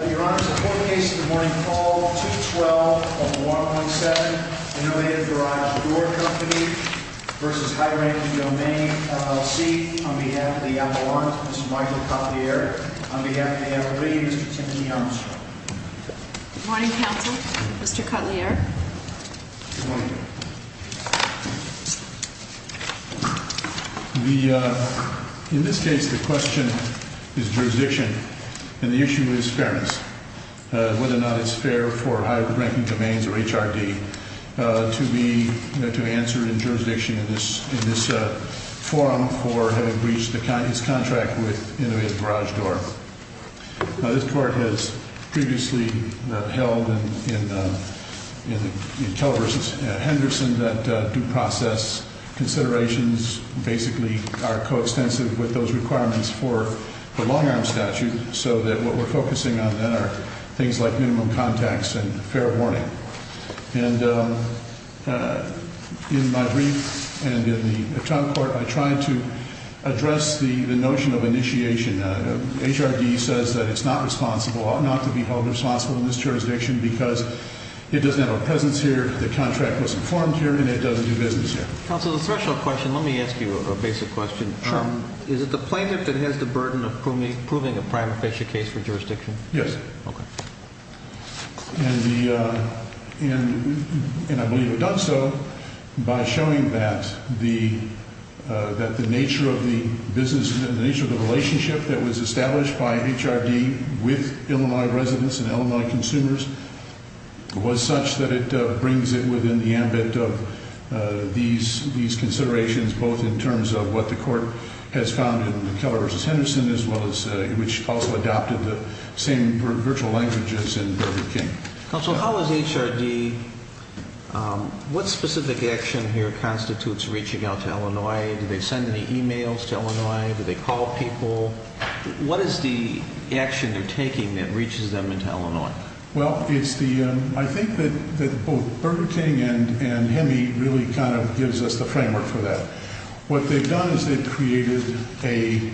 Your Honor, the court case of the morning call, 2-12-117, Innovative Garage Door Co. v. High Ranking Domains, LLC, on behalf of the Avalanche, Mr. Michael Cotelier, on behalf of the L.A., Mr. Timothy Armstrong. Good morning, counsel. Mr. Cotelier. Good morning. In this case, the question is jurisdiction, and the issue is fairness. Whether or not it's fair for High Ranking Domains or HRD to answer in jurisdiction in this forum for having breached its contract with Innovative Garage Door. Now, this court has previously held in Kell v. Henderson that due process considerations basically are coextensive with those requirements for the long-arm statute, so that what we're focusing on then are things like minimum contacts and fair warning. And in my brief and in the trial court, I tried to address the notion of initiation. HRD says that it's not responsible, ought not to be held responsible in this jurisdiction because it doesn't have a presence here, the contract was informed here, and it doesn't do business here. Counsel, a special question. Let me ask you a basic question. Sure. Is it the plaintiff that has the burden of proving a prima facie case for jurisdiction? Yes. Okay. And I believe it does so by showing that the nature of the relationship that was established by HRD with Illinois residents and Illinois consumers was such that it brings it within the ambit of these considerations, both in terms of what the court has found in Keller v. Henderson as well as which also adopted the same virtual languages in Burger King. Counsel, how is HRD, what specific action here constitutes reaching out to Illinois? Do they send any e-mails to Illinois? Do they call people? What is the action they're taking that reaches them into Illinois? Well, it's the, I think that both Burger King and HEMI really kind of gives us the framework for that. What they've done is they've created a,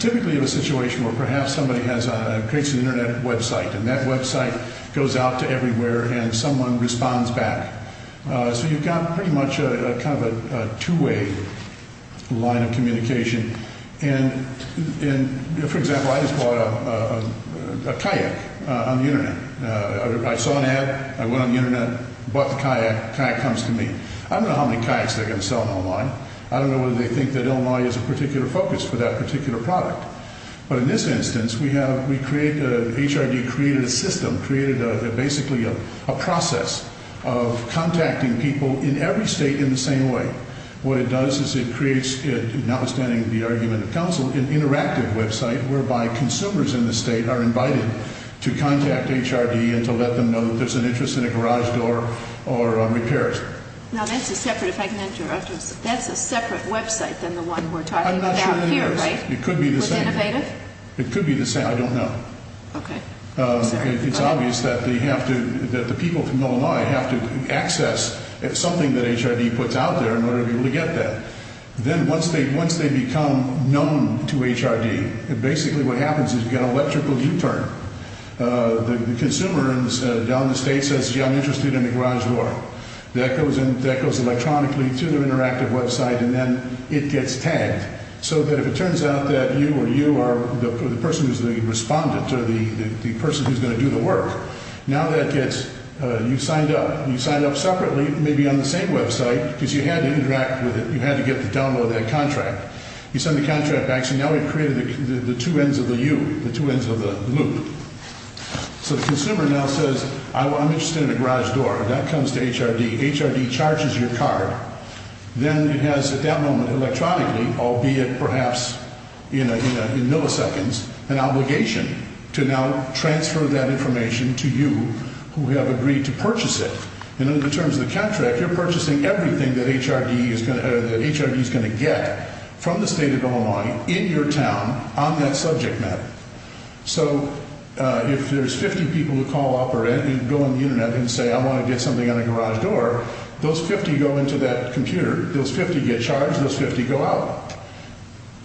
typically a situation where perhaps somebody has a, creates an Internet website, and that website goes out to everywhere and someone responds back. So you've got pretty much a kind of a two-way line of communication. And for example, I just bought a kayak on the Internet. I saw an ad, I went on the Internet, bought the kayak, the kayak comes to me. I don't know how many kayaks they're going to sell in Illinois. I don't know whether they think that Illinois is a particular focus for that particular product. But in this instance, we have, we create, HRD created a system, created basically a process of contacting people in every state in the same way. What it does is it creates, notwithstanding the argument of counsel, an interactive website whereby consumers in the state are invited to contact HRD and to let them know that there's an interest in a garage door or repairs. Now, that's a separate, if I can interrupt you, that's a separate website than the one we're talking about here, right? It could be the same. Was it innovative? It could be the same, I don't know. Okay. Sorry. It's obvious that they have to, that the people from Illinois have to access something that HRD puts out there in order to be able to get that. Then once they become known to HRD, basically what happens is you've got an electrical U-turn. The consumer down in the state says, gee, I'm interested in a garage door. That goes electronically to their interactive website, and then it gets tagged so that if it turns out that you or you are the person who's the respondent or the person who's going to do the work, now that gets, you signed up. You signed up separately, maybe on the same website, because you had to interact with it. You had to get the download of that contract. You send the contract back, so now we've created the two ends of the U, the two ends of the loop. So the consumer now says, I'm interested in a garage door. That comes to HRD. HRD charges your card. Then it has, at that moment, electronically, albeit perhaps in milliseconds, an obligation to now transfer that information to you who have agreed to purchase it. And in terms of the contract, you're purchasing everything that HRD is going to get from the state of Illinois in your town on that subject matter. So if there's 50 people who call up or go on the Internet and say, I want to get something on a garage door, those 50 go into that computer. Those 50 get charged. Those 50 go out.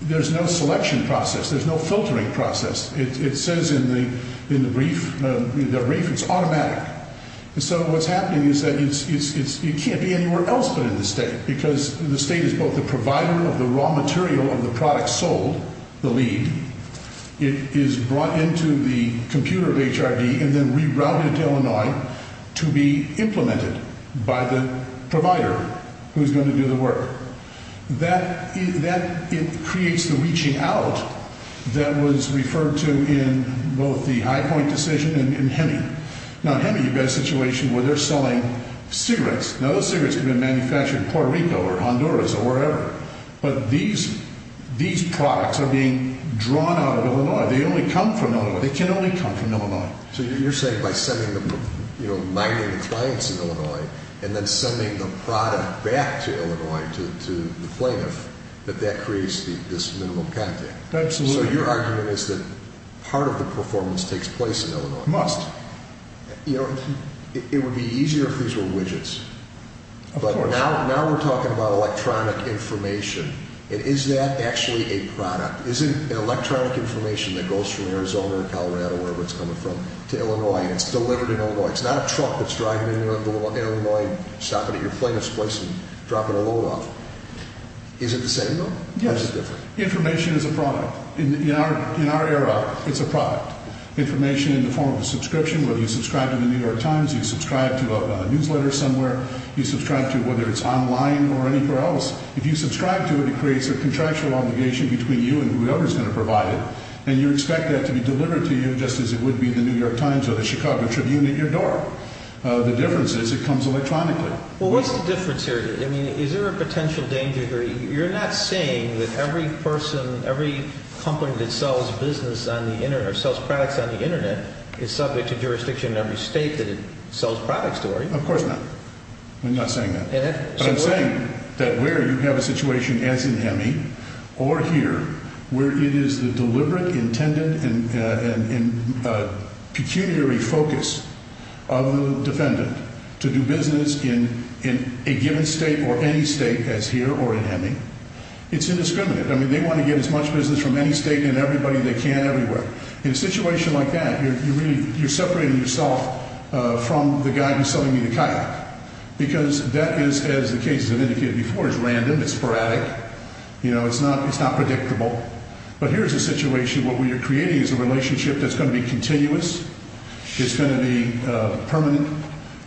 There's no selection process. There's no filtering process. It says in the brief, the brief, it's automatic. So what's happening is that it can't be anywhere else but in the state because the state is both the provider of the raw material of the product sold, the lead. It is brought into the computer of HRD and then rerouted to Illinois to be implemented by the provider who's going to do the work. That creates the reaching out that was referred to in both the High Point decision and HEMI. Now, HEMI, you've got a situation where they're selling cigarettes. Now, those cigarettes can be manufactured in Puerto Rico or Honduras or wherever. But these products are being drawn out of Illinois. They only come from Illinois. They can only come from Illinois. So you're saying by sending them, you know, mining the clients in Illinois and then sending the product back to Illinois to the plaintiff that that creates this minimal contact. Absolutely. So your argument is that part of the performance takes place in Illinois. It must. You know, it would be easier if these were widgets. Of course. But now we're talking about electronic information. And is that actually a product? Isn't electronic information that goes from Arizona or Colorado, wherever it's coming from, to Illinois and it's delivered in Illinois? It's not a truck that's driving in Illinois and stopping at your plaintiff's place and dropping a load off. Is it the same though? Yes. Or is it different? Information is a product. In our era, it's a product. Information in the form of a subscription, whether you subscribe to the New York Times, you subscribe to a newsletter somewhere, you subscribe to whether it's online or anywhere else. If you subscribe to it, it creates a contractual obligation between you and whoever is going to provide it. And you expect that to be delivered to you just as it would be in the New York Times or the Chicago Tribune at your door. The difference is it comes electronically. Well, what's the difference here? I mean, is there a potential danger here? You're not saying that every person, every company that sells business on the Internet or sells products on the Internet is subject to jurisdiction in every state that it sells products to, are you? Of course not. I'm not saying that. But I'm saying that where you have a situation as in HEMI or here where it is the deliberate, intended, and pecuniary focus of the defendant to do business in a given state or any state as here or in HEMI, it's indiscriminate. I mean, they want to get as much business from any state and everybody they can everywhere. In a situation like that, you're separating yourself from the guy who's selling you the kayak because that is, as the cases have indicated before, is random. It's sporadic. You know, it's not predictable. But here's a situation where what you're creating is a relationship that's going to be continuous. It's going to be permanent.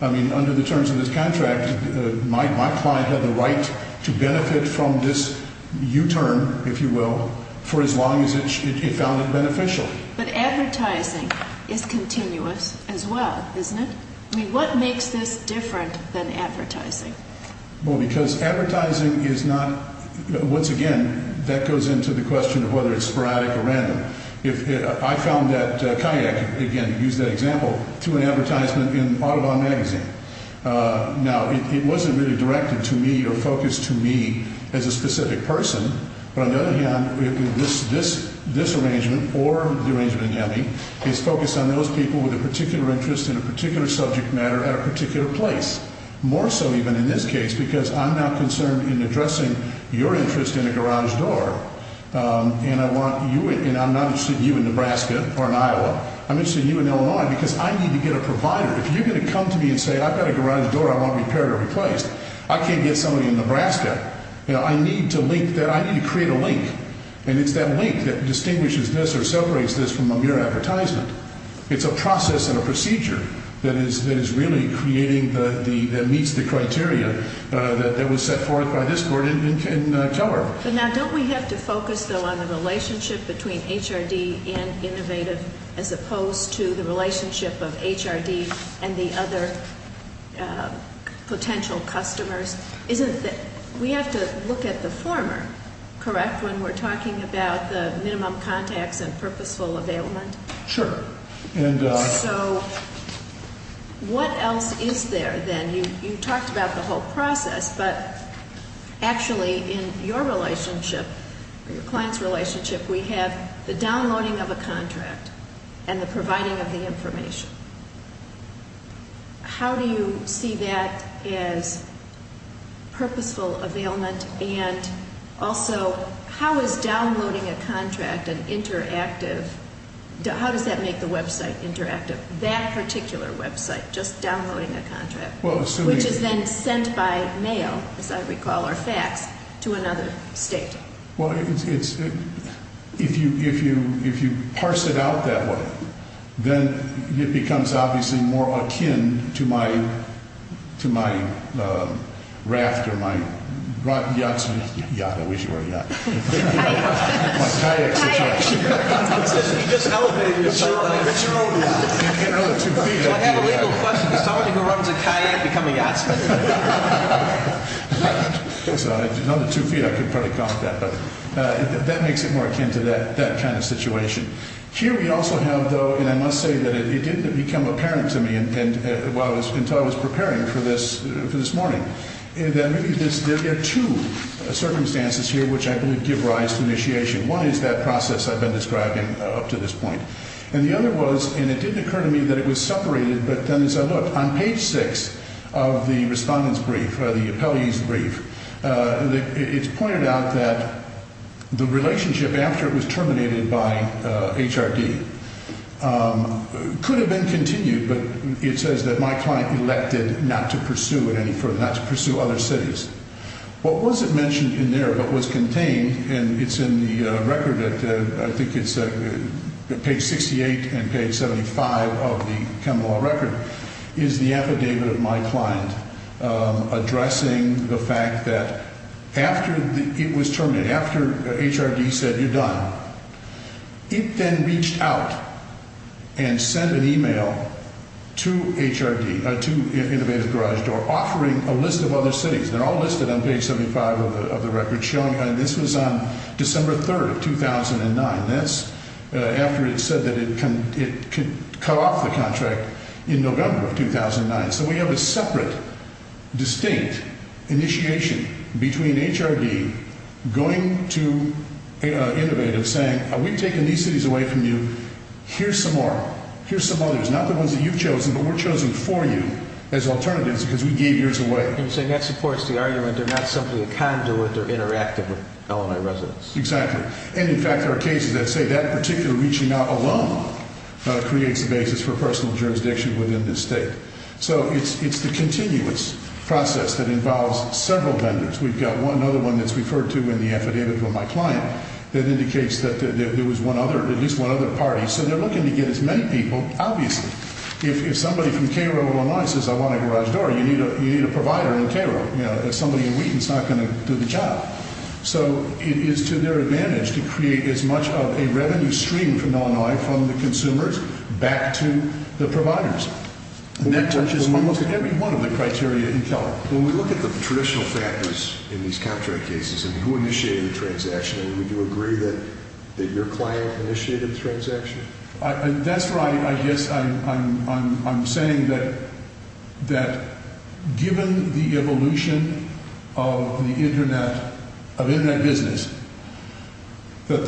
I mean, under the terms of this contract, my client had the right to benefit from this U-turn, if you will, for as long as it found it beneficial. But advertising is continuous as well, isn't it? I mean, what makes this different than advertising? Well, because advertising is not, once again, that goes into the question of whether it's sporadic or random. I found that kayak, again, use that example, to an advertisement in Audubon Magazine. Now, it wasn't really directed to me or focused to me as a specific person. But on the other hand, this arrangement or the arrangement in HEMI is focused on those people with a particular interest in a particular subject matter at a particular place. More so even in this case because I'm not concerned in addressing your interest in a garage door. And I'm not interested in you in Nebraska or in Iowa. I'm interested in you in Illinois because I need to get a provider. If you're going to come to me and say, I've got a garage door I want repaired or replaced, I can't get somebody in Nebraska. I need to link that. I need to create a link. And it's that link that distinguishes this or separates this from a mere advertisement. It's a process and a procedure that is really creating, that meets the criteria that was set forth by this court in Keller. But now, don't we have to focus, though, on the relationship between HRD and Innovative as opposed to the relationship of HRD and the other potential customers? Isn't it that we have to look at the former, correct, when we're talking about the minimum contacts and purposeful availment? Sure. So, what else is there then? You talked about the whole process, but actually in your relationship, your client's relationship, we have the downloading of a contract and the providing of the information. How do you see that as purposeful availment? And also, how is downloading a contract an interactive, how does that make the website interactive, that particular website, just downloading a contract? Which is then sent by mail, as I recall, or fax, to another state. Well, if you parse it out that way, then it becomes obviously more akin to my raft or my yacht. Yacht, I wish you were a yacht. Kayak. My kayak situation. Kayak. You just elevated yourself. It's your own yacht. In another two feet. I have a legal question. Is somebody who runs a kayak becoming a yachtsman? In another two feet, I could probably comment on that. But that makes it more akin to that kind of situation. Here we also have, though, and I must say that it didn't become apparent to me until I was preparing for this morning. There are two circumstances here which I believe give rise to initiation. One is that process I've been describing up to this point. And the other was, and it didn't occur to me that it was separated, but then as I looked, on page six of the respondent's brief, the appellee's brief, it's pointed out that the relationship after it was terminated by HRD could have been continued, but it says that my client elected not to pursue it any further, not to pursue other cities. What wasn't mentioned in there but was contained, and it's in the record, I think it's page 68 and page 75 of the Kemmel Law Record, is the affidavit of my client addressing the fact that after it was terminated, after HRD said you're done, it then reached out and sent an email to HRD, to Innovative Garage Door, offering a list of other cities. They're all listed on page 75 of the record, and this was on December 3rd of 2009. That's after it said that it could cut off the contract in November of 2009. So we have a separate, distinct initiation between HRD going to Innovative saying, we've taken these cities away from you, here's some more, here's some others. Not the ones that you've chosen, but we're chosen for you as alternatives because we gave yours away. And you're saying that supports the argument they're not simply a conduit, they're interactive with Illinois residents. Exactly. And, in fact, there are cases that say that particular reaching out alone creates the basis for personal jurisdiction within this state. So it's the continuous process that involves several vendors. We've got another one that's referred to in the affidavit from my client that indicates that there was at least one other party. So they're looking to get as many people, obviously. If somebody from KRO Illinois says, I want a garage door, you need a provider in KRO. Somebody in Wheaton's not going to do the job. So it is to their advantage to create as much of a revenue stream from Illinois from the consumers back to the providers. And that touches almost every one of the criteria in Keller. When we look at the traditional factors in these contract cases and who initiated the transaction, would you agree that your client initiated the transaction? That's right. I guess I'm saying that given the evolution of the Internet, of Internet business, that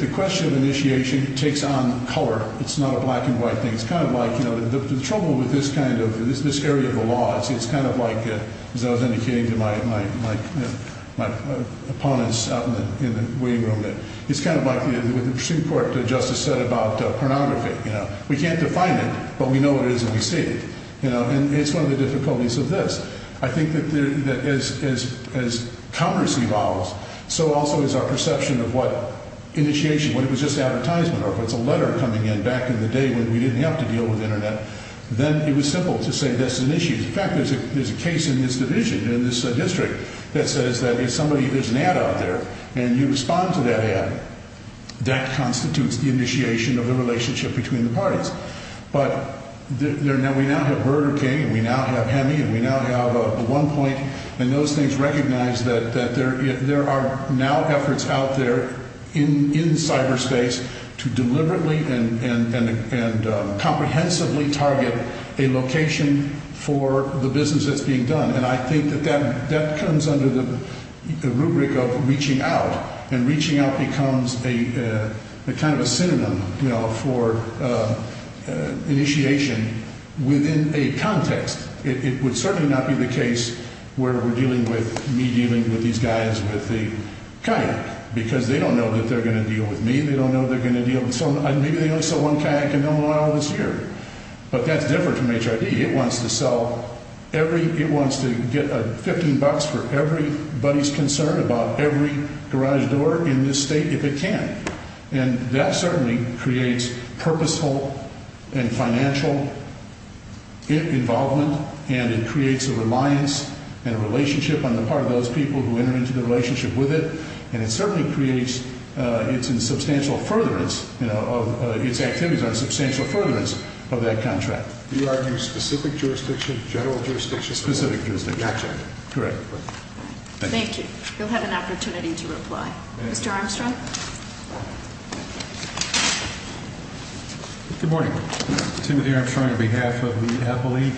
the question of initiation takes on color. It's not a black and white thing. It's kind of like, you know, the trouble with this kind of, this area of the law, it's kind of like, as I was indicating to my opponents out in the waiting room, that it's kind of like what the Pursuit Court Justice said about pornography. You know, we can't define it, but we know it is and we see it. You know, and it's one of the difficulties of this. I think that as commerce evolves, so also is our perception of what initiation, when it was just advertisement, or if it's a letter coming in back in the day when we didn't have to deal with Internet, then it was simple to say that's an issue. In fact, there's a case in this division, in this district, that says that if somebody, there's an ad out there, and you respond to that ad, that constitutes the initiation of the relationship between the parties. But we now have Burger King, and we now have Hemi, and we now have OnePoint, and those things recognize that there are now efforts out there in cyberspace to deliberately and comprehensively target a location for the business that's being done. And I think that that comes under the rubric of reaching out. And reaching out becomes a kind of a synonym, you know, for initiation within a context. It would certainly not be the case where we're dealing with me dealing with these guys with the kayak, because they don't know that they're going to deal with me. They don't know they're going to deal with someone. Maybe they don't sell one kayak, and they'll know I own this here. But that's different from HRD. It wants to sell every, it wants to get $15 for everybody's concern about every garage door in this state if it can. And that certainly creates purposeful and financial involvement, and it creates a reliance and a relationship on the part of those people who enter into the relationship with it. And it certainly creates, it's in substantial furtherance, you know, of its activities, a substantial furtherance of that contract. Do you argue specific jurisdiction, general jurisdiction? Specific jurisdiction. Gotcha. Great. Thank you. You'll have an opportunity to reply. Thank you. Mr. Armstrong? Good morning. Timothy Armstrong on behalf of the Appalachian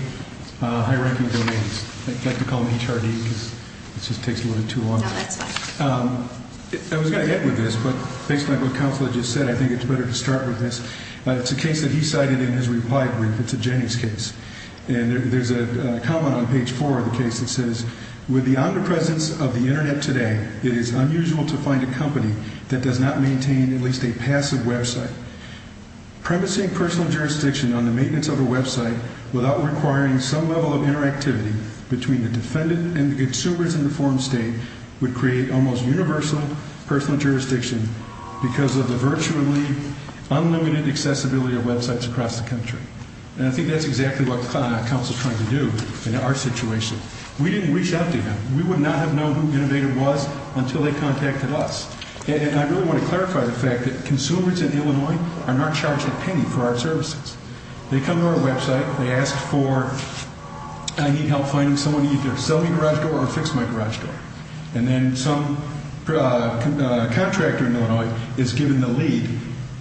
High Ranking Donors. I like to call them HRD because it just takes a little too long. No, that's fine. I was going to end with this, but based on what Counselor just said, I think it's better to start with this. It's a case that he cited in his reply brief. It's a Jennings case. And there's a comment on page four of the case that says, with the omnipresence of the Internet today, it is unusual to find a company that does not maintain at least a passive website. Premising personal jurisdiction on the maintenance of a website without requiring some level of interactivity between the defendant and the consumers in the foreign state would create almost universal personal jurisdiction because of the virtually unlimited accessibility of websites across the country. And I think that's exactly what Counselor is trying to do in our situation. We didn't reach out to him. We would not have known who Innovator was until they contacted us. And I really want to clarify the fact that consumers in Illinois are not charged a penny for our services. They come to our website. They ask for, I need help finding someone to either sell me a garage door or fix my garage door. And then some contractor in Illinois is given the lead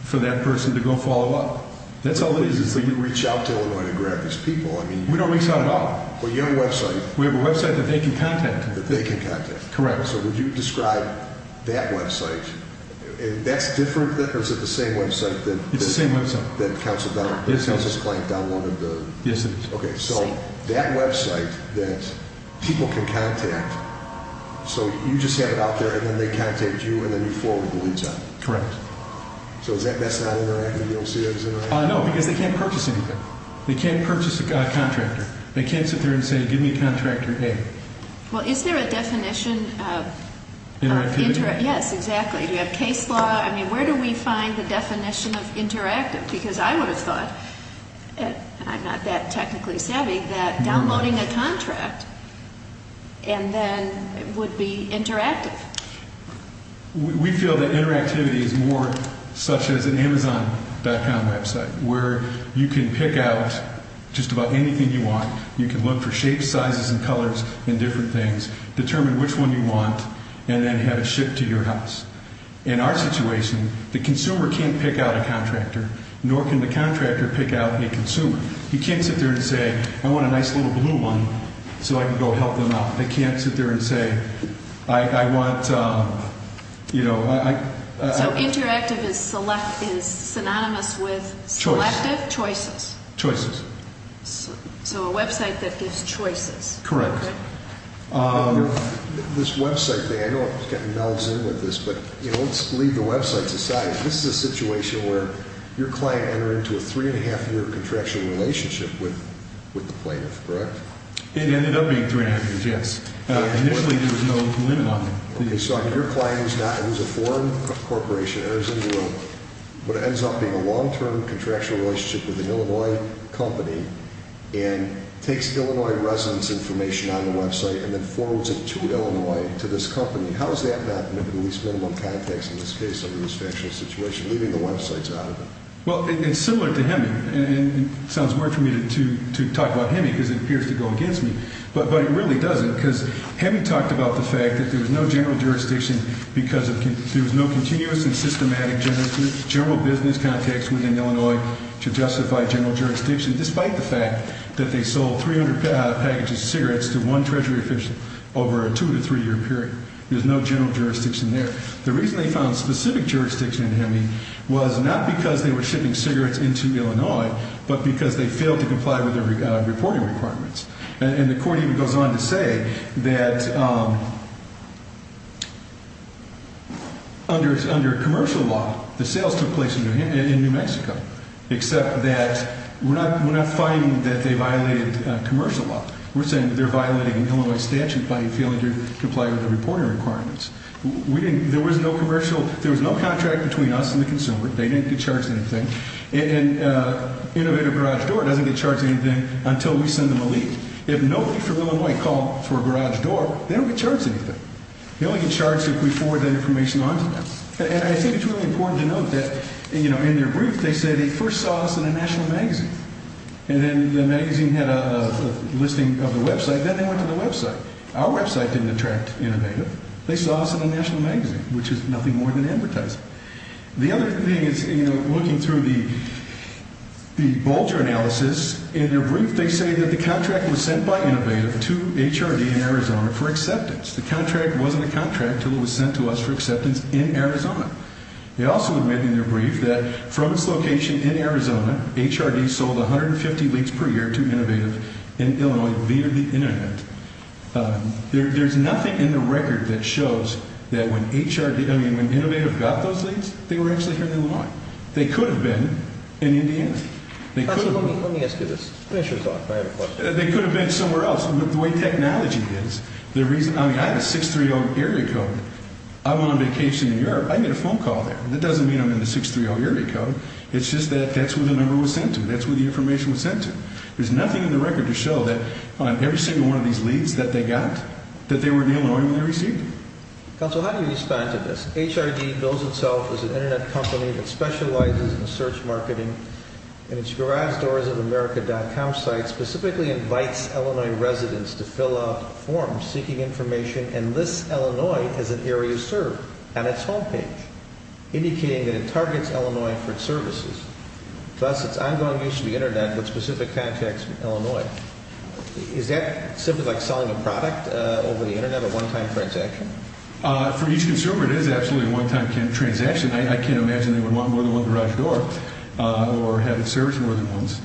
for that person to go follow up. That's all it is, is that you reach out to Illinois to grab these people. I mean, we don't reach out at all. Well, you have a website. We have a website that they can contact. That they can contact. Correct. So would you describe that website? And that's different? Is it the same website? It's the same website. That Counselor Donnelly, that Counselor Clank Donnelly. Yes, it is. Okay, so that website that people can contact. So you just have it out there and then they contact you and then you forward the leads on it. Correct. So is that best not interactive? You don't see that as interactive? No, because they can't purchase anything. They can't purchase a contractor. They can't sit there and say, give me contractor A. Well, is there a definition of interactive? Yes, exactly. Do you have case law? I mean, where do we find the definition of interactive? Because I would have thought, and I'm not that technically savvy, that downloading a contract and then it would be interactive. We feel that interactivity is more such as an Amazon.com website where you can pick out just about anything you want. You can look for shapes, sizes, and colors and different things, determine which one you want, and then have it shipped to your house. In our situation, the consumer can't pick out a contractor, nor can the contractor pick out a consumer. He can't sit there and say, I want a nice little blue one so I can go help them out. They can't sit there and say, I want, you know. So interactive is synonymous with selective choices. Choices. So a website that gives choices. Correct. This website thing, I know I'm getting bells in with this, but let's leave the websites aside. This is a situation where your client entered into a three-and-a-half-year contractual relationship with the plaintiff, correct? It ended up being three-and-a-half years, yes. Initially, there was no limit on it. So your client is a foreign corporation, enters into what ends up being a long-term contractual relationship with an Illinois company and takes Illinois residence information on the website and then forwards it to Illinois to this company. How does that happen in the least minimum context in this case under this factual situation, leaving the websites out of it? Well, it's similar to HEMI. It sounds weird for me to talk about HEMI because it appears to go against me, but it really doesn't because HEMI talked about the fact that there was no general jurisdiction because there was no continuous and systematic general business context within Illinois to justify general jurisdiction, despite the fact that they sold 300 packages of cigarettes to one Treasury official over a two- to three-year period. There's no general jurisdiction there. The reason they found specific jurisdiction in HEMI was not because they were shipping cigarettes into Illinois, but because they failed to comply with their reporting requirements. And the court even goes on to say that under commercial law, the sales took place in New Mexico, except that we're not finding that they violated commercial law. We're saying they're violating an Illinois statute by failing to comply with the reporting requirements. There was no commercial – there was no contract between us and the consumer. They didn't get charged anything. And Innovative Garage Door doesn't get charged anything until we send them a lead. If nobody from Illinois called for Garage Door, they don't get charged anything. They only get charged if we forward that information on to them. And I think it's really important to note that, you know, in their brief, they say they first saw us in a national magazine. And then the magazine had a listing of the website. Then they went to the website. Our website didn't attract Innovative. They saw us in a national magazine, which is nothing more than advertising. The other thing is, you know, looking through the Bolger analysis, in their brief they say that the contract was sent by Innovative to HRD in Arizona for acceptance. The contract wasn't a contract until it was sent to us for acceptance in Arizona. They also admit in their brief that from its location in Arizona, HRD sold 150 leads per year to Innovative in Illinois via the internet. There's nothing in the record that shows that when HRD – I mean, when Innovative got those leads, they were actually here in Illinois. They could have been in Indiana. They could have – Let me ask you this. Finish your talk. I have a question. They could have been somewhere else. The way technology is, the reason – I mean, I have a 630 area code. I'm on vacation in Europe. I get a phone call there. That doesn't mean I'm in the 630 area code. It's just that that's where the number was sent to. That's where the information was sent to. There's nothing in the record to show that on every single one of these leads that they got, that they were in Illinois when they received them. Counsel, how do you respond to this? HRD bills itself as an internet company that specializes in search marketing and its garagedoorsofamerica.com site specifically invites Illinois residents to fill out forms seeking information and lists Illinois as an area served on its home page, indicating that it targets Illinois for its services. Thus, it's ongoing use of the internet with specific contacts in Illinois. Is that simply like selling a product over the internet, a one-time transaction? For each consumer, it is absolutely a one-time transaction. I can't imagine they would want more than one garage door or have it serviced more than once.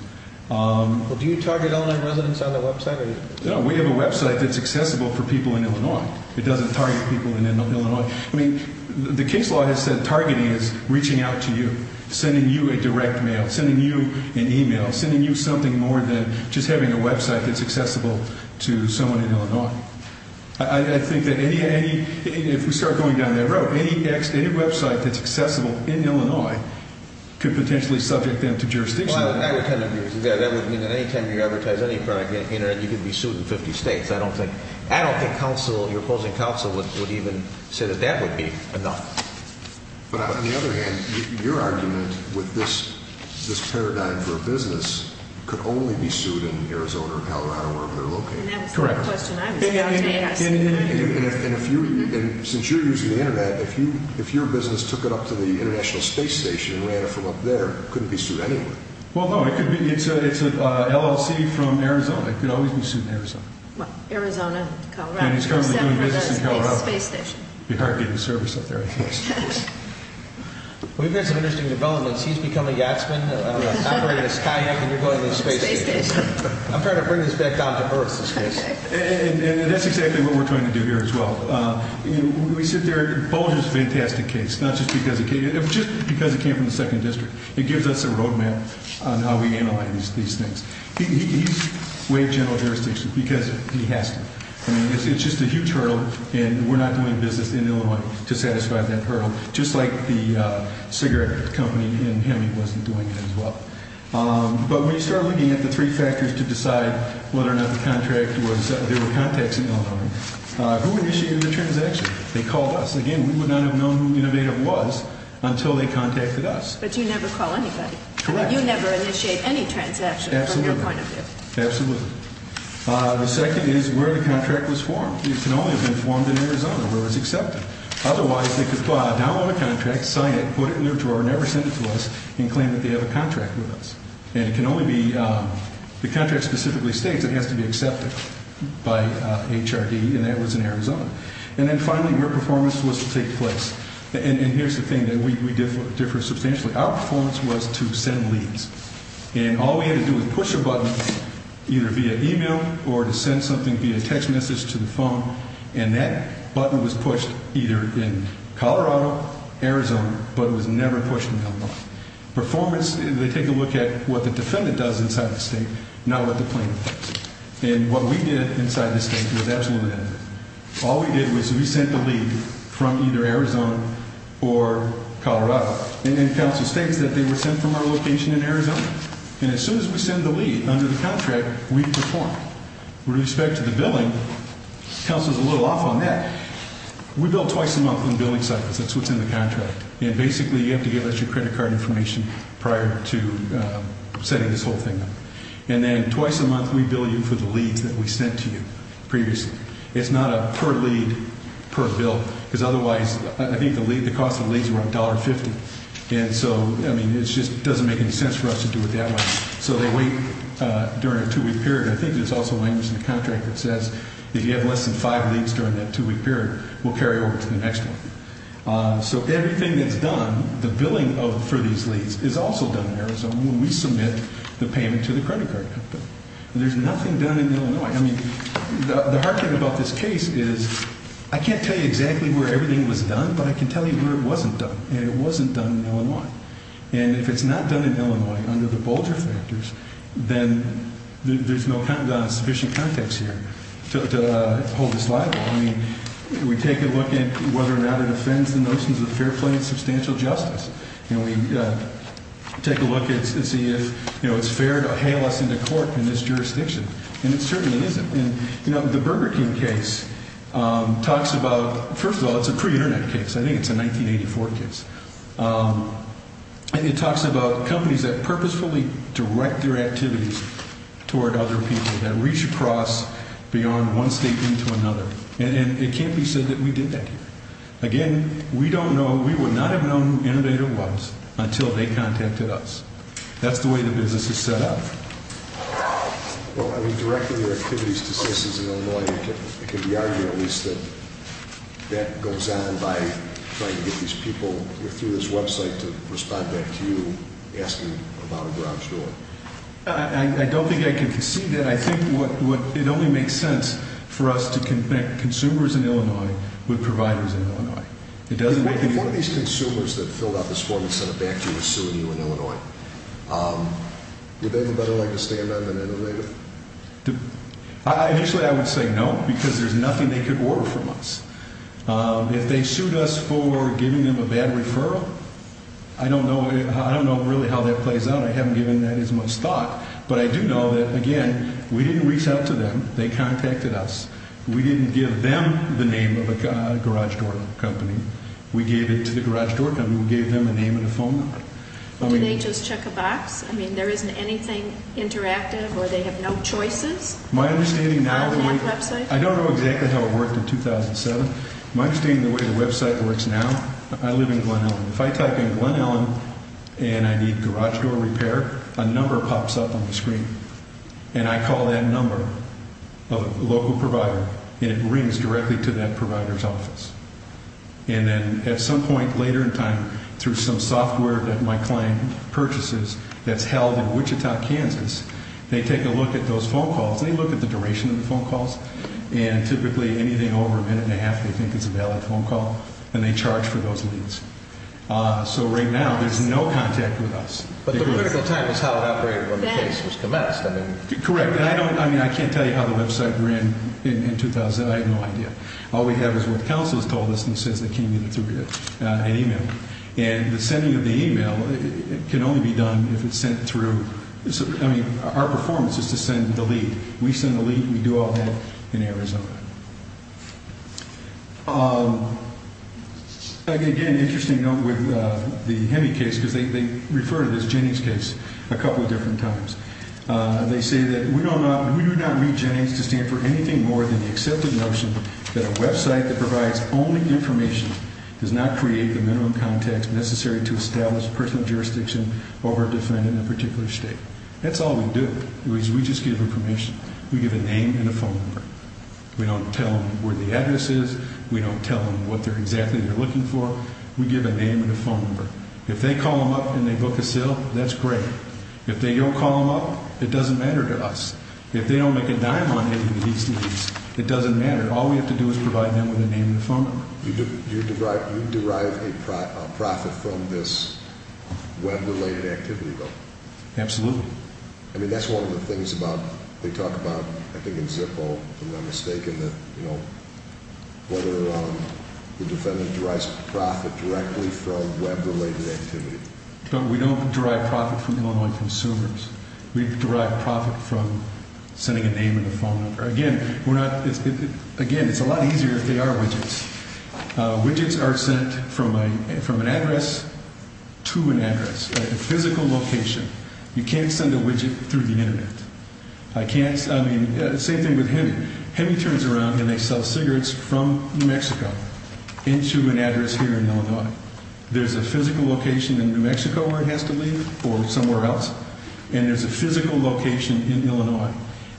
Do you target Illinois residents on the website? No. We have a website that's accessible for people in Illinois. It doesn't target people in Illinois. I mean, the case law has said targeting is reaching out to you, sending you a direct mail, sending you an e-mail, sending you something more than just having a website that's accessible to someone in Illinois. I think that if we start going down that road, any website that's accessible in Illinois could potentially subject them to jurisdiction. That would mean that any time you advertise any product on the internet, you could be sued in 50 states. I don't think your opposing counsel would even say that that would be enough. But on the other hand, your argument with this paradigm for a business could only be sued in Arizona or Colorado or wherever they're located. And that was the question I was about to ask. And since you're using the internet, if your business took it up to the International Space Station and ran it from up there, it couldn't be sued anywhere. Well, no, it could be. It's an LLC from Arizona. It could always be sued in Arizona. Arizona, Colorado. And he's currently doing business in Colorado. Except for the Space Station. It'd be hard getting service up there, I think. Well, we've had some interesting developments. He's becoming Yatsman. I'm bringing this kayak, and you're going to the Space Station. I'm trying to bring this back down to Earth, this case. And that's exactly what we're trying to do here as well. We sit there. Bolger's a fantastic case, not just because he came. It was just because he came from the 2nd District. It gives us a roadmap on how we analyze these things. He's way in general jurisdiction because he has to. I mean, it's just a huge hurdle, and we're not doing business in Illinois to satisfy that hurdle. Just like the cigarette company and him, he wasn't doing it as well. But when you start looking at the 3 factors to decide whether or not the contract was there were contacts in Illinois, who initiated the transaction? They called us. Again, we would not have known who Innovative was until they contacted us. But you never call anybody. Correct. You never initiate any transaction from their point of view. Absolutely. Absolutely. The second is where the contract was formed. It can only have been formed in Arizona where it was accepted. Otherwise, they could download a contract, sign it, put it in their drawer, never send it to us, and claim that they have a contract with us. And it can only be the contract specifically states it has to be accepted by HRD, and that was in Arizona. And then finally, where performance was to take place. And here's the thing. We differ substantially. Our performance was to send leads. And all we had to do was push a button either via e-mail or to send something via text message to the phone, and that button was pushed either in Colorado, Arizona, but it was never pushed in Illinois. Performance, they take a look at what the defendant does inside the state, not what the plaintiff does. And what we did inside the state was absolutely nothing. All we did was we sent a lead from either Arizona or Colorado. And then counsel states that they were sent from our location in Arizona. And as soon as we send the lead under the contract, we perform. With respect to the billing, counsel's a little off on that. We bill twice a month on billing cycles. That's what's in the contract. And basically you have to give us your credit card information prior to setting this whole thing up. And then twice a month we bill you for the leads that we sent to you previously. It's not a per lead, per bill, because otherwise I think the lead, the cost of the leads were $1.50. And so, I mean, it just doesn't make any sense for us to do it that way. So they wait during a two-week period. I think there's also language in the contract that says if you have less than five leads during that two-week period, we'll carry over to the next one. So everything that's done, the billing for these leads, is also done in Arizona when we submit the payment to the credit card company. There's nothing done in Illinois. I mean, the hard thing about this case is I can't tell you exactly where everything was done, but I can tell you where it wasn't done. And it wasn't done in Illinois. And if it's not done in Illinois under the Bolger factors, then there's no sufficient context here to hold this liable. I mean, we take a look at whether or not it offends the notions of fair play and substantial justice. And we take a look and see if, you know, it's fair to hail us into court in this jurisdiction. And it certainly isn't. And, you know, the Burger King case talks about, first of all, it's a pre-Internet case. I think it's a 1984 case. And it talks about companies that purposefully direct their activities toward other people, that reach across beyond one state into another. And it can't be said that we did that here. Again, we don't know. We would not have known who Innovator was until they contacted us. That's the way the business is set up. Well, I mean, directing your activities to citizens in Illinois, it can be argued at least that that goes on by trying to get these people through this Web site to respond back to you asking about a garage door. I don't think I can concede that. I think it only makes sense for us to connect consumers in Illinois with providers in Illinois. It doesn't make any sense. Would they have a better leg to stand on than Innovator? Initially, I would say no, because there's nothing they could order from us. If they sued us for giving them a bad referral, I don't know really how that plays out. I haven't given that as much thought. But I do know that, again, we didn't reach out to them. They contacted us. We didn't give them the name of a garage door company. We gave it to the garage door company. We gave them a name and a phone number. Do they just check a box? I mean, there isn't anything interactive, or they have no choices? My understanding now of the way— On that Web site? I don't know exactly how it worked in 2007. My understanding of the way the Web site works now, I live in Glen Ellyn. If I type in Glen Ellyn and I need garage door repair, a number pops up on the screen. And then at some point later in time, through some software that my client purchases that's held in Wichita, Kansas, they take a look at those phone calls, and they look at the duration of the phone calls, and typically anything over a minute and a half they think is a valid phone call, and they charge for those leads. So right now, there's no contact with us. But the critical time is how it operated when the case was commenced. Correct. I mean, I can't tell you how the Web site ran in 2007. I have no idea. All we have is what the counsel has told us, and it says they can't get it through an email. And the sending of the email can only be done if it's sent through—I mean, our performance is to send the lead. We send the lead. We do all that in Arizona. Again, interesting note with the HEMI case, because they refer to this Jennings case a couple of different times. They say that we do not read Jennings to stand for anything more than the accepted notion that a Web site that provides only information does not create the minimum context necessary to establish personal jurisdiction over a defendant in a particular state. That's all we do, is we just give them permission. We give a name and a phone number. We don't tell them where the address is. We don't tell them what exactly they're looking for. We give a name and a phone number. If they call them up and they book a sale, that's great. If they don't call them up, it doesn't matter to us. If they don't make a dime on any of these leads, it doesn't matter. All we have to do is provide them with a name and a phone number. Absolutely. I mean, that's one of the things they talk about, I think, in Zippo, if I'm not mistaken, whether the defendant derives profit directly from Web-related activity. We don't derive profit from Illinois consumers. We derive profit from sending a name and a phone number. Again, it's a lot easier if they are widgets. Widgets are sent from an address to an address, a physical location. You can't send a widget through the Internet. I mean, the same thing with Hemi. Hemi turns around and they sell cigarettes from New Mexico into an address here in Illinois. There's a physical location in New Mexico where it has to leave or somewhere else, and there's a physical location in Illinois.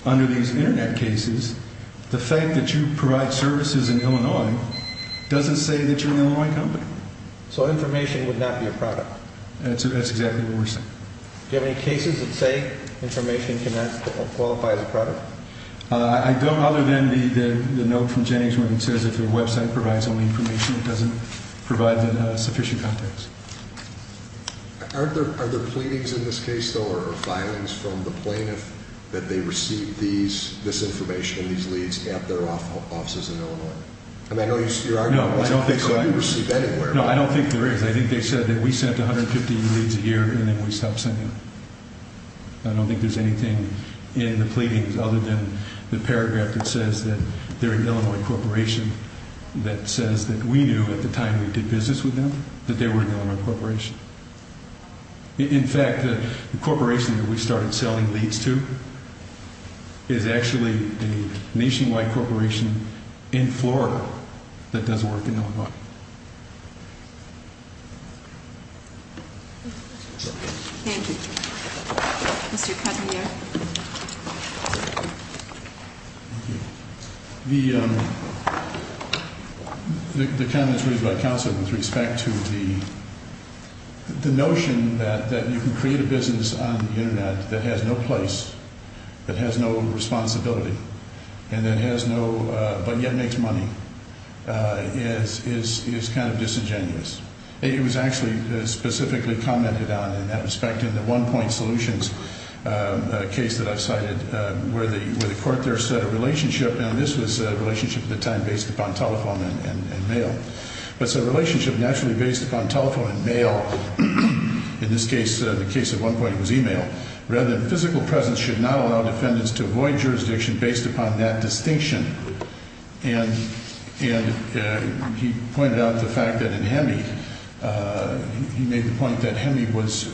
Under these Internet cases, the fact that you provide services in Illinois doesn't say that you're an Illinois company. So information would not be a product. That's exactly what we're saying. Do you have any cases that say information cannot qualify as a product? I don't, other than the note from Jenny's where it says if your website provides only information, it doesn't provide sufficient context. Are there pleadings in this case, though, or filings from the plaintiff that they received this information, these leads, at their offices in Illinois? I mean, I know you're arguing that they couldn't receive anywhere. No, I don't think there is. I think they said that we sent 150 leads a year and then we stopped sending them. I don't think there's anything in the pleadings other than the paragraph that says that they're an Illinois corporation that says that we knew at the time we did business with them that they were an Illinois corporation. In fact, the corporation that we started selling leads to is actually the nationwide corporation in Florida that does work in Illinois. Thank you. Mr. Cousineau. The comments raised by counsel with respect to the notion that you can create a business on the Internet that has no place, that has no responsibility, and that has no, but yet makes money, is kind of disingenuous. It was actually specifically commented on in that respect. In the one-point solutions case that I've cited where the court there set a relationship, and this was a relationship at the time based upon telephone and mail, but it's a relationship naturally based upon telephone and mail. In this case, the case at one point was email. Rather than physical presence should not allow defendants to avoid jurisdiction based upon that distinction. And he pointed out the fact that in HEMI, he made the point that HEMI was,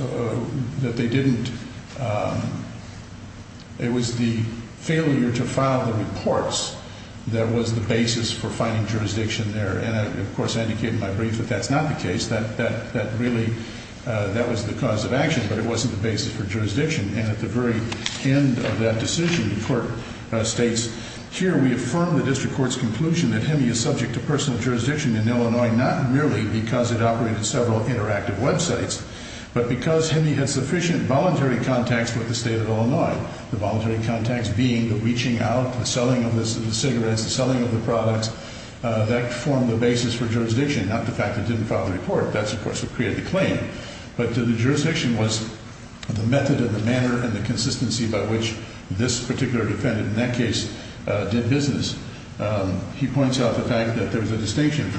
that they didn't, it was the failure to file the reports that was the basis for finding jurisdiction there. And, of course, I indicated in my brief that that's not the case. That really, that was the cause of action, but it wasn't the basis for jurisdiction. And at the very end of that decision, the court states, here we affirm the district court's conclusion that HEMI is subject to personal jurisdiction in Illinois, not merely because it operated several interactive websites, but because HEMI had sufficient voluntary contacts with the state of Illinois. The voluntary contacts being the reaching out, the selling of the cigarettes, the selling of the products. That formed the basis for jurisdiction, not the fact that it didn't file the report. That's, of course, what created the claim. But the jurisdiction was the method and the manner and the consistency by which this particular defendant, in that case, did business. He points out the fact that there was a distinction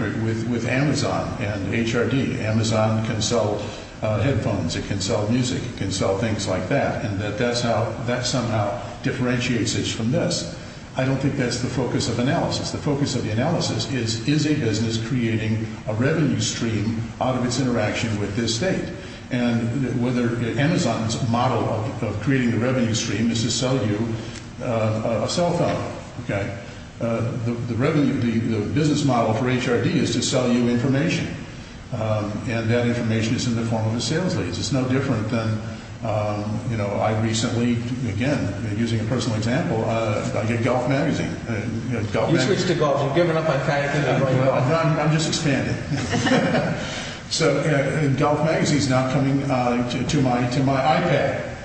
with Amazon and HRD. Amazon can sell headphones. It can sell music. It can sell things like that. And that that's how, that somehow differentiates it from this. I don't think that's the focus of analysis. The focus of the analysis is, is a business creating a revenue stream out of its interaction with this state? And whether Amazon's model of creating the revenue stream is to sell you a cell phone, okay? The revenue, the business model for HRD is to sell you information. And that information is in the form of a sales lease. It's no different than, you know, I recently, again, using a personal example, I get Golf Magazine. You switched to golf. You've given up on kayaking. I'm just expanding. So, you know, Golf Magazine is now coming to my iPad,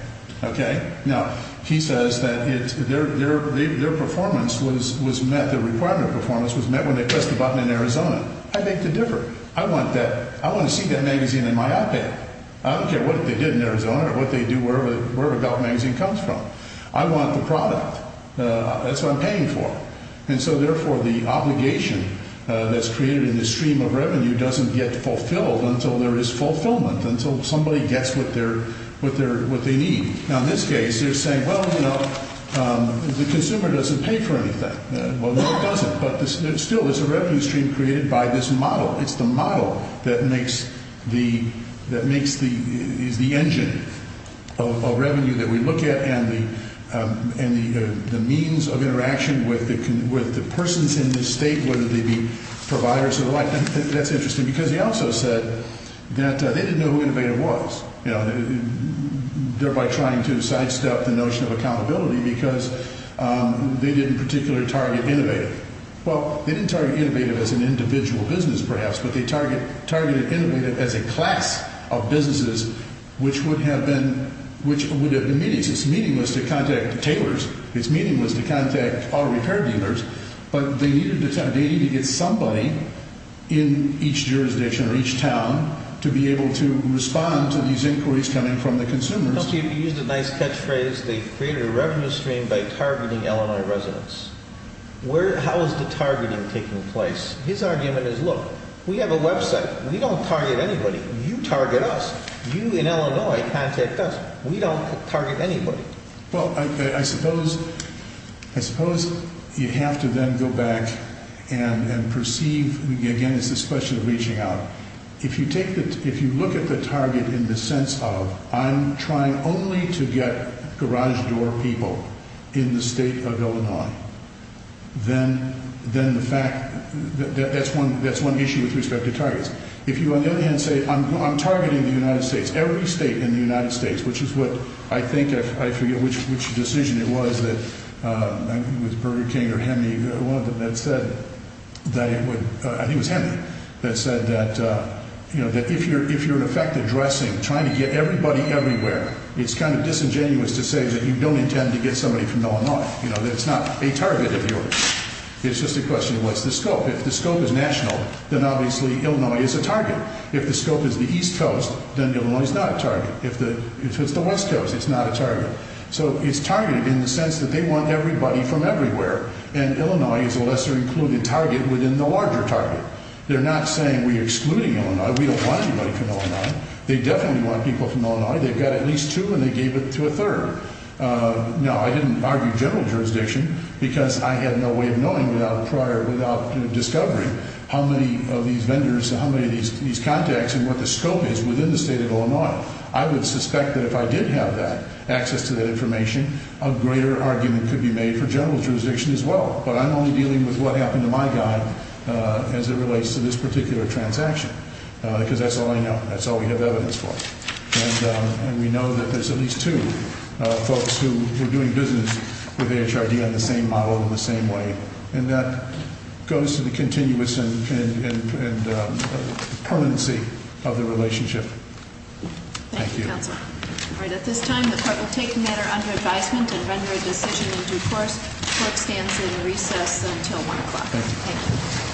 okay? Now, he says that their performance was met, the requirement of performance was met when they pressed the button in Arizona. I think they're different. I want that. I want to see that magazine in my iPad. I don't care what they did in Arizona or what they do, wherever Golf Magazine comes from. I want the product. That's what I'm paying for. And so, therefore, the obligation that's created in this stream of revenue doesn't get fulfilled until there is fulfillment, until somebody gets what they need. Now, in this case, they're saying, well, you know, the consumer doesn't pay for anything. Well, no, it doesn't. But still, there's a revenue stream created by this model. It's the model that makes the engine of revenue that we look at and the means of interaction with the persons in this state, whether they be providers or the like. That's interesting because he also said that they didn't know who Innovative was, you know, thereby trying to sidestep the notion of accountability because they didn't particularly target Innovative. Well, they didn't target Innovative as an individual business, perhaps, but they targeted Innovative as a class of businesses which would have been meaningless to contact tailors. It's meaningless to contact auto repair dealers. But they needed to get somebody in each jurisdiction or each town to be able to respond to these inquiries coming from the consumers. You used a nice catchphrase, they created a revenue stream by targeting Illinois residents. How is the targeting taking place? His argument is, look, we have a website. We don't target anybody. You target us. You in Illinois contact us. We don't target anybody. Well, I suppose you have to then go back and perceive, again, it's this question of reaching out. If you look at the target in the sense of I'm trying only to get garage door people in the state of Illinois, then that's one issue with respect to targets. If you, on the other hand, say I'm targeting the United States, every state in the United States, which is what I think, I forget which decision it was, whether it was Burger King or Hemi, one of them that said that if you're, in effect, addressing trying to get everybody everywhere, it's kind of disingenuous to say that you don't intend to get somebody from Illinois, that it's not a target of yours. It's just a question of what's the scope. If the scope is national, then obviously Illinois is a target. If the scope is the East Coast, then Illinois is not a target. If it's the West Coast, it's not a target. So it's targeted in the sense that they want everybody from everywhere. And Illinois is a lesser included target within the larger target. They're not saying we're excluding Illinois. We don't want anybody from Illinois. They definitely want people from Illinois. They've got at least two, and they gave it to a third. Now, I didn't argue general jurisdiction because I had no way of knowing without prior, without discovering how many of these vendors and how many of these contacts and what the scope is within the state of Illinois. I would suspect that if I did have that, access to that information, a greater argument could be made for general jurisdiction as well. But I'm only dealing with what happened to my guy as it relates to this particular transaction because that's all I know. That's all we have evidence for. And we know that there's at least two folks who were doing business with HRD on the same model in the same way. And that goes to the continuous and permanency of the relationship. Thank you. Thank you, Counsel. All right. At this time, the court will take the matter under advisement and render a decision in due course. The court stands in recess until 1 o'clock. Thank you.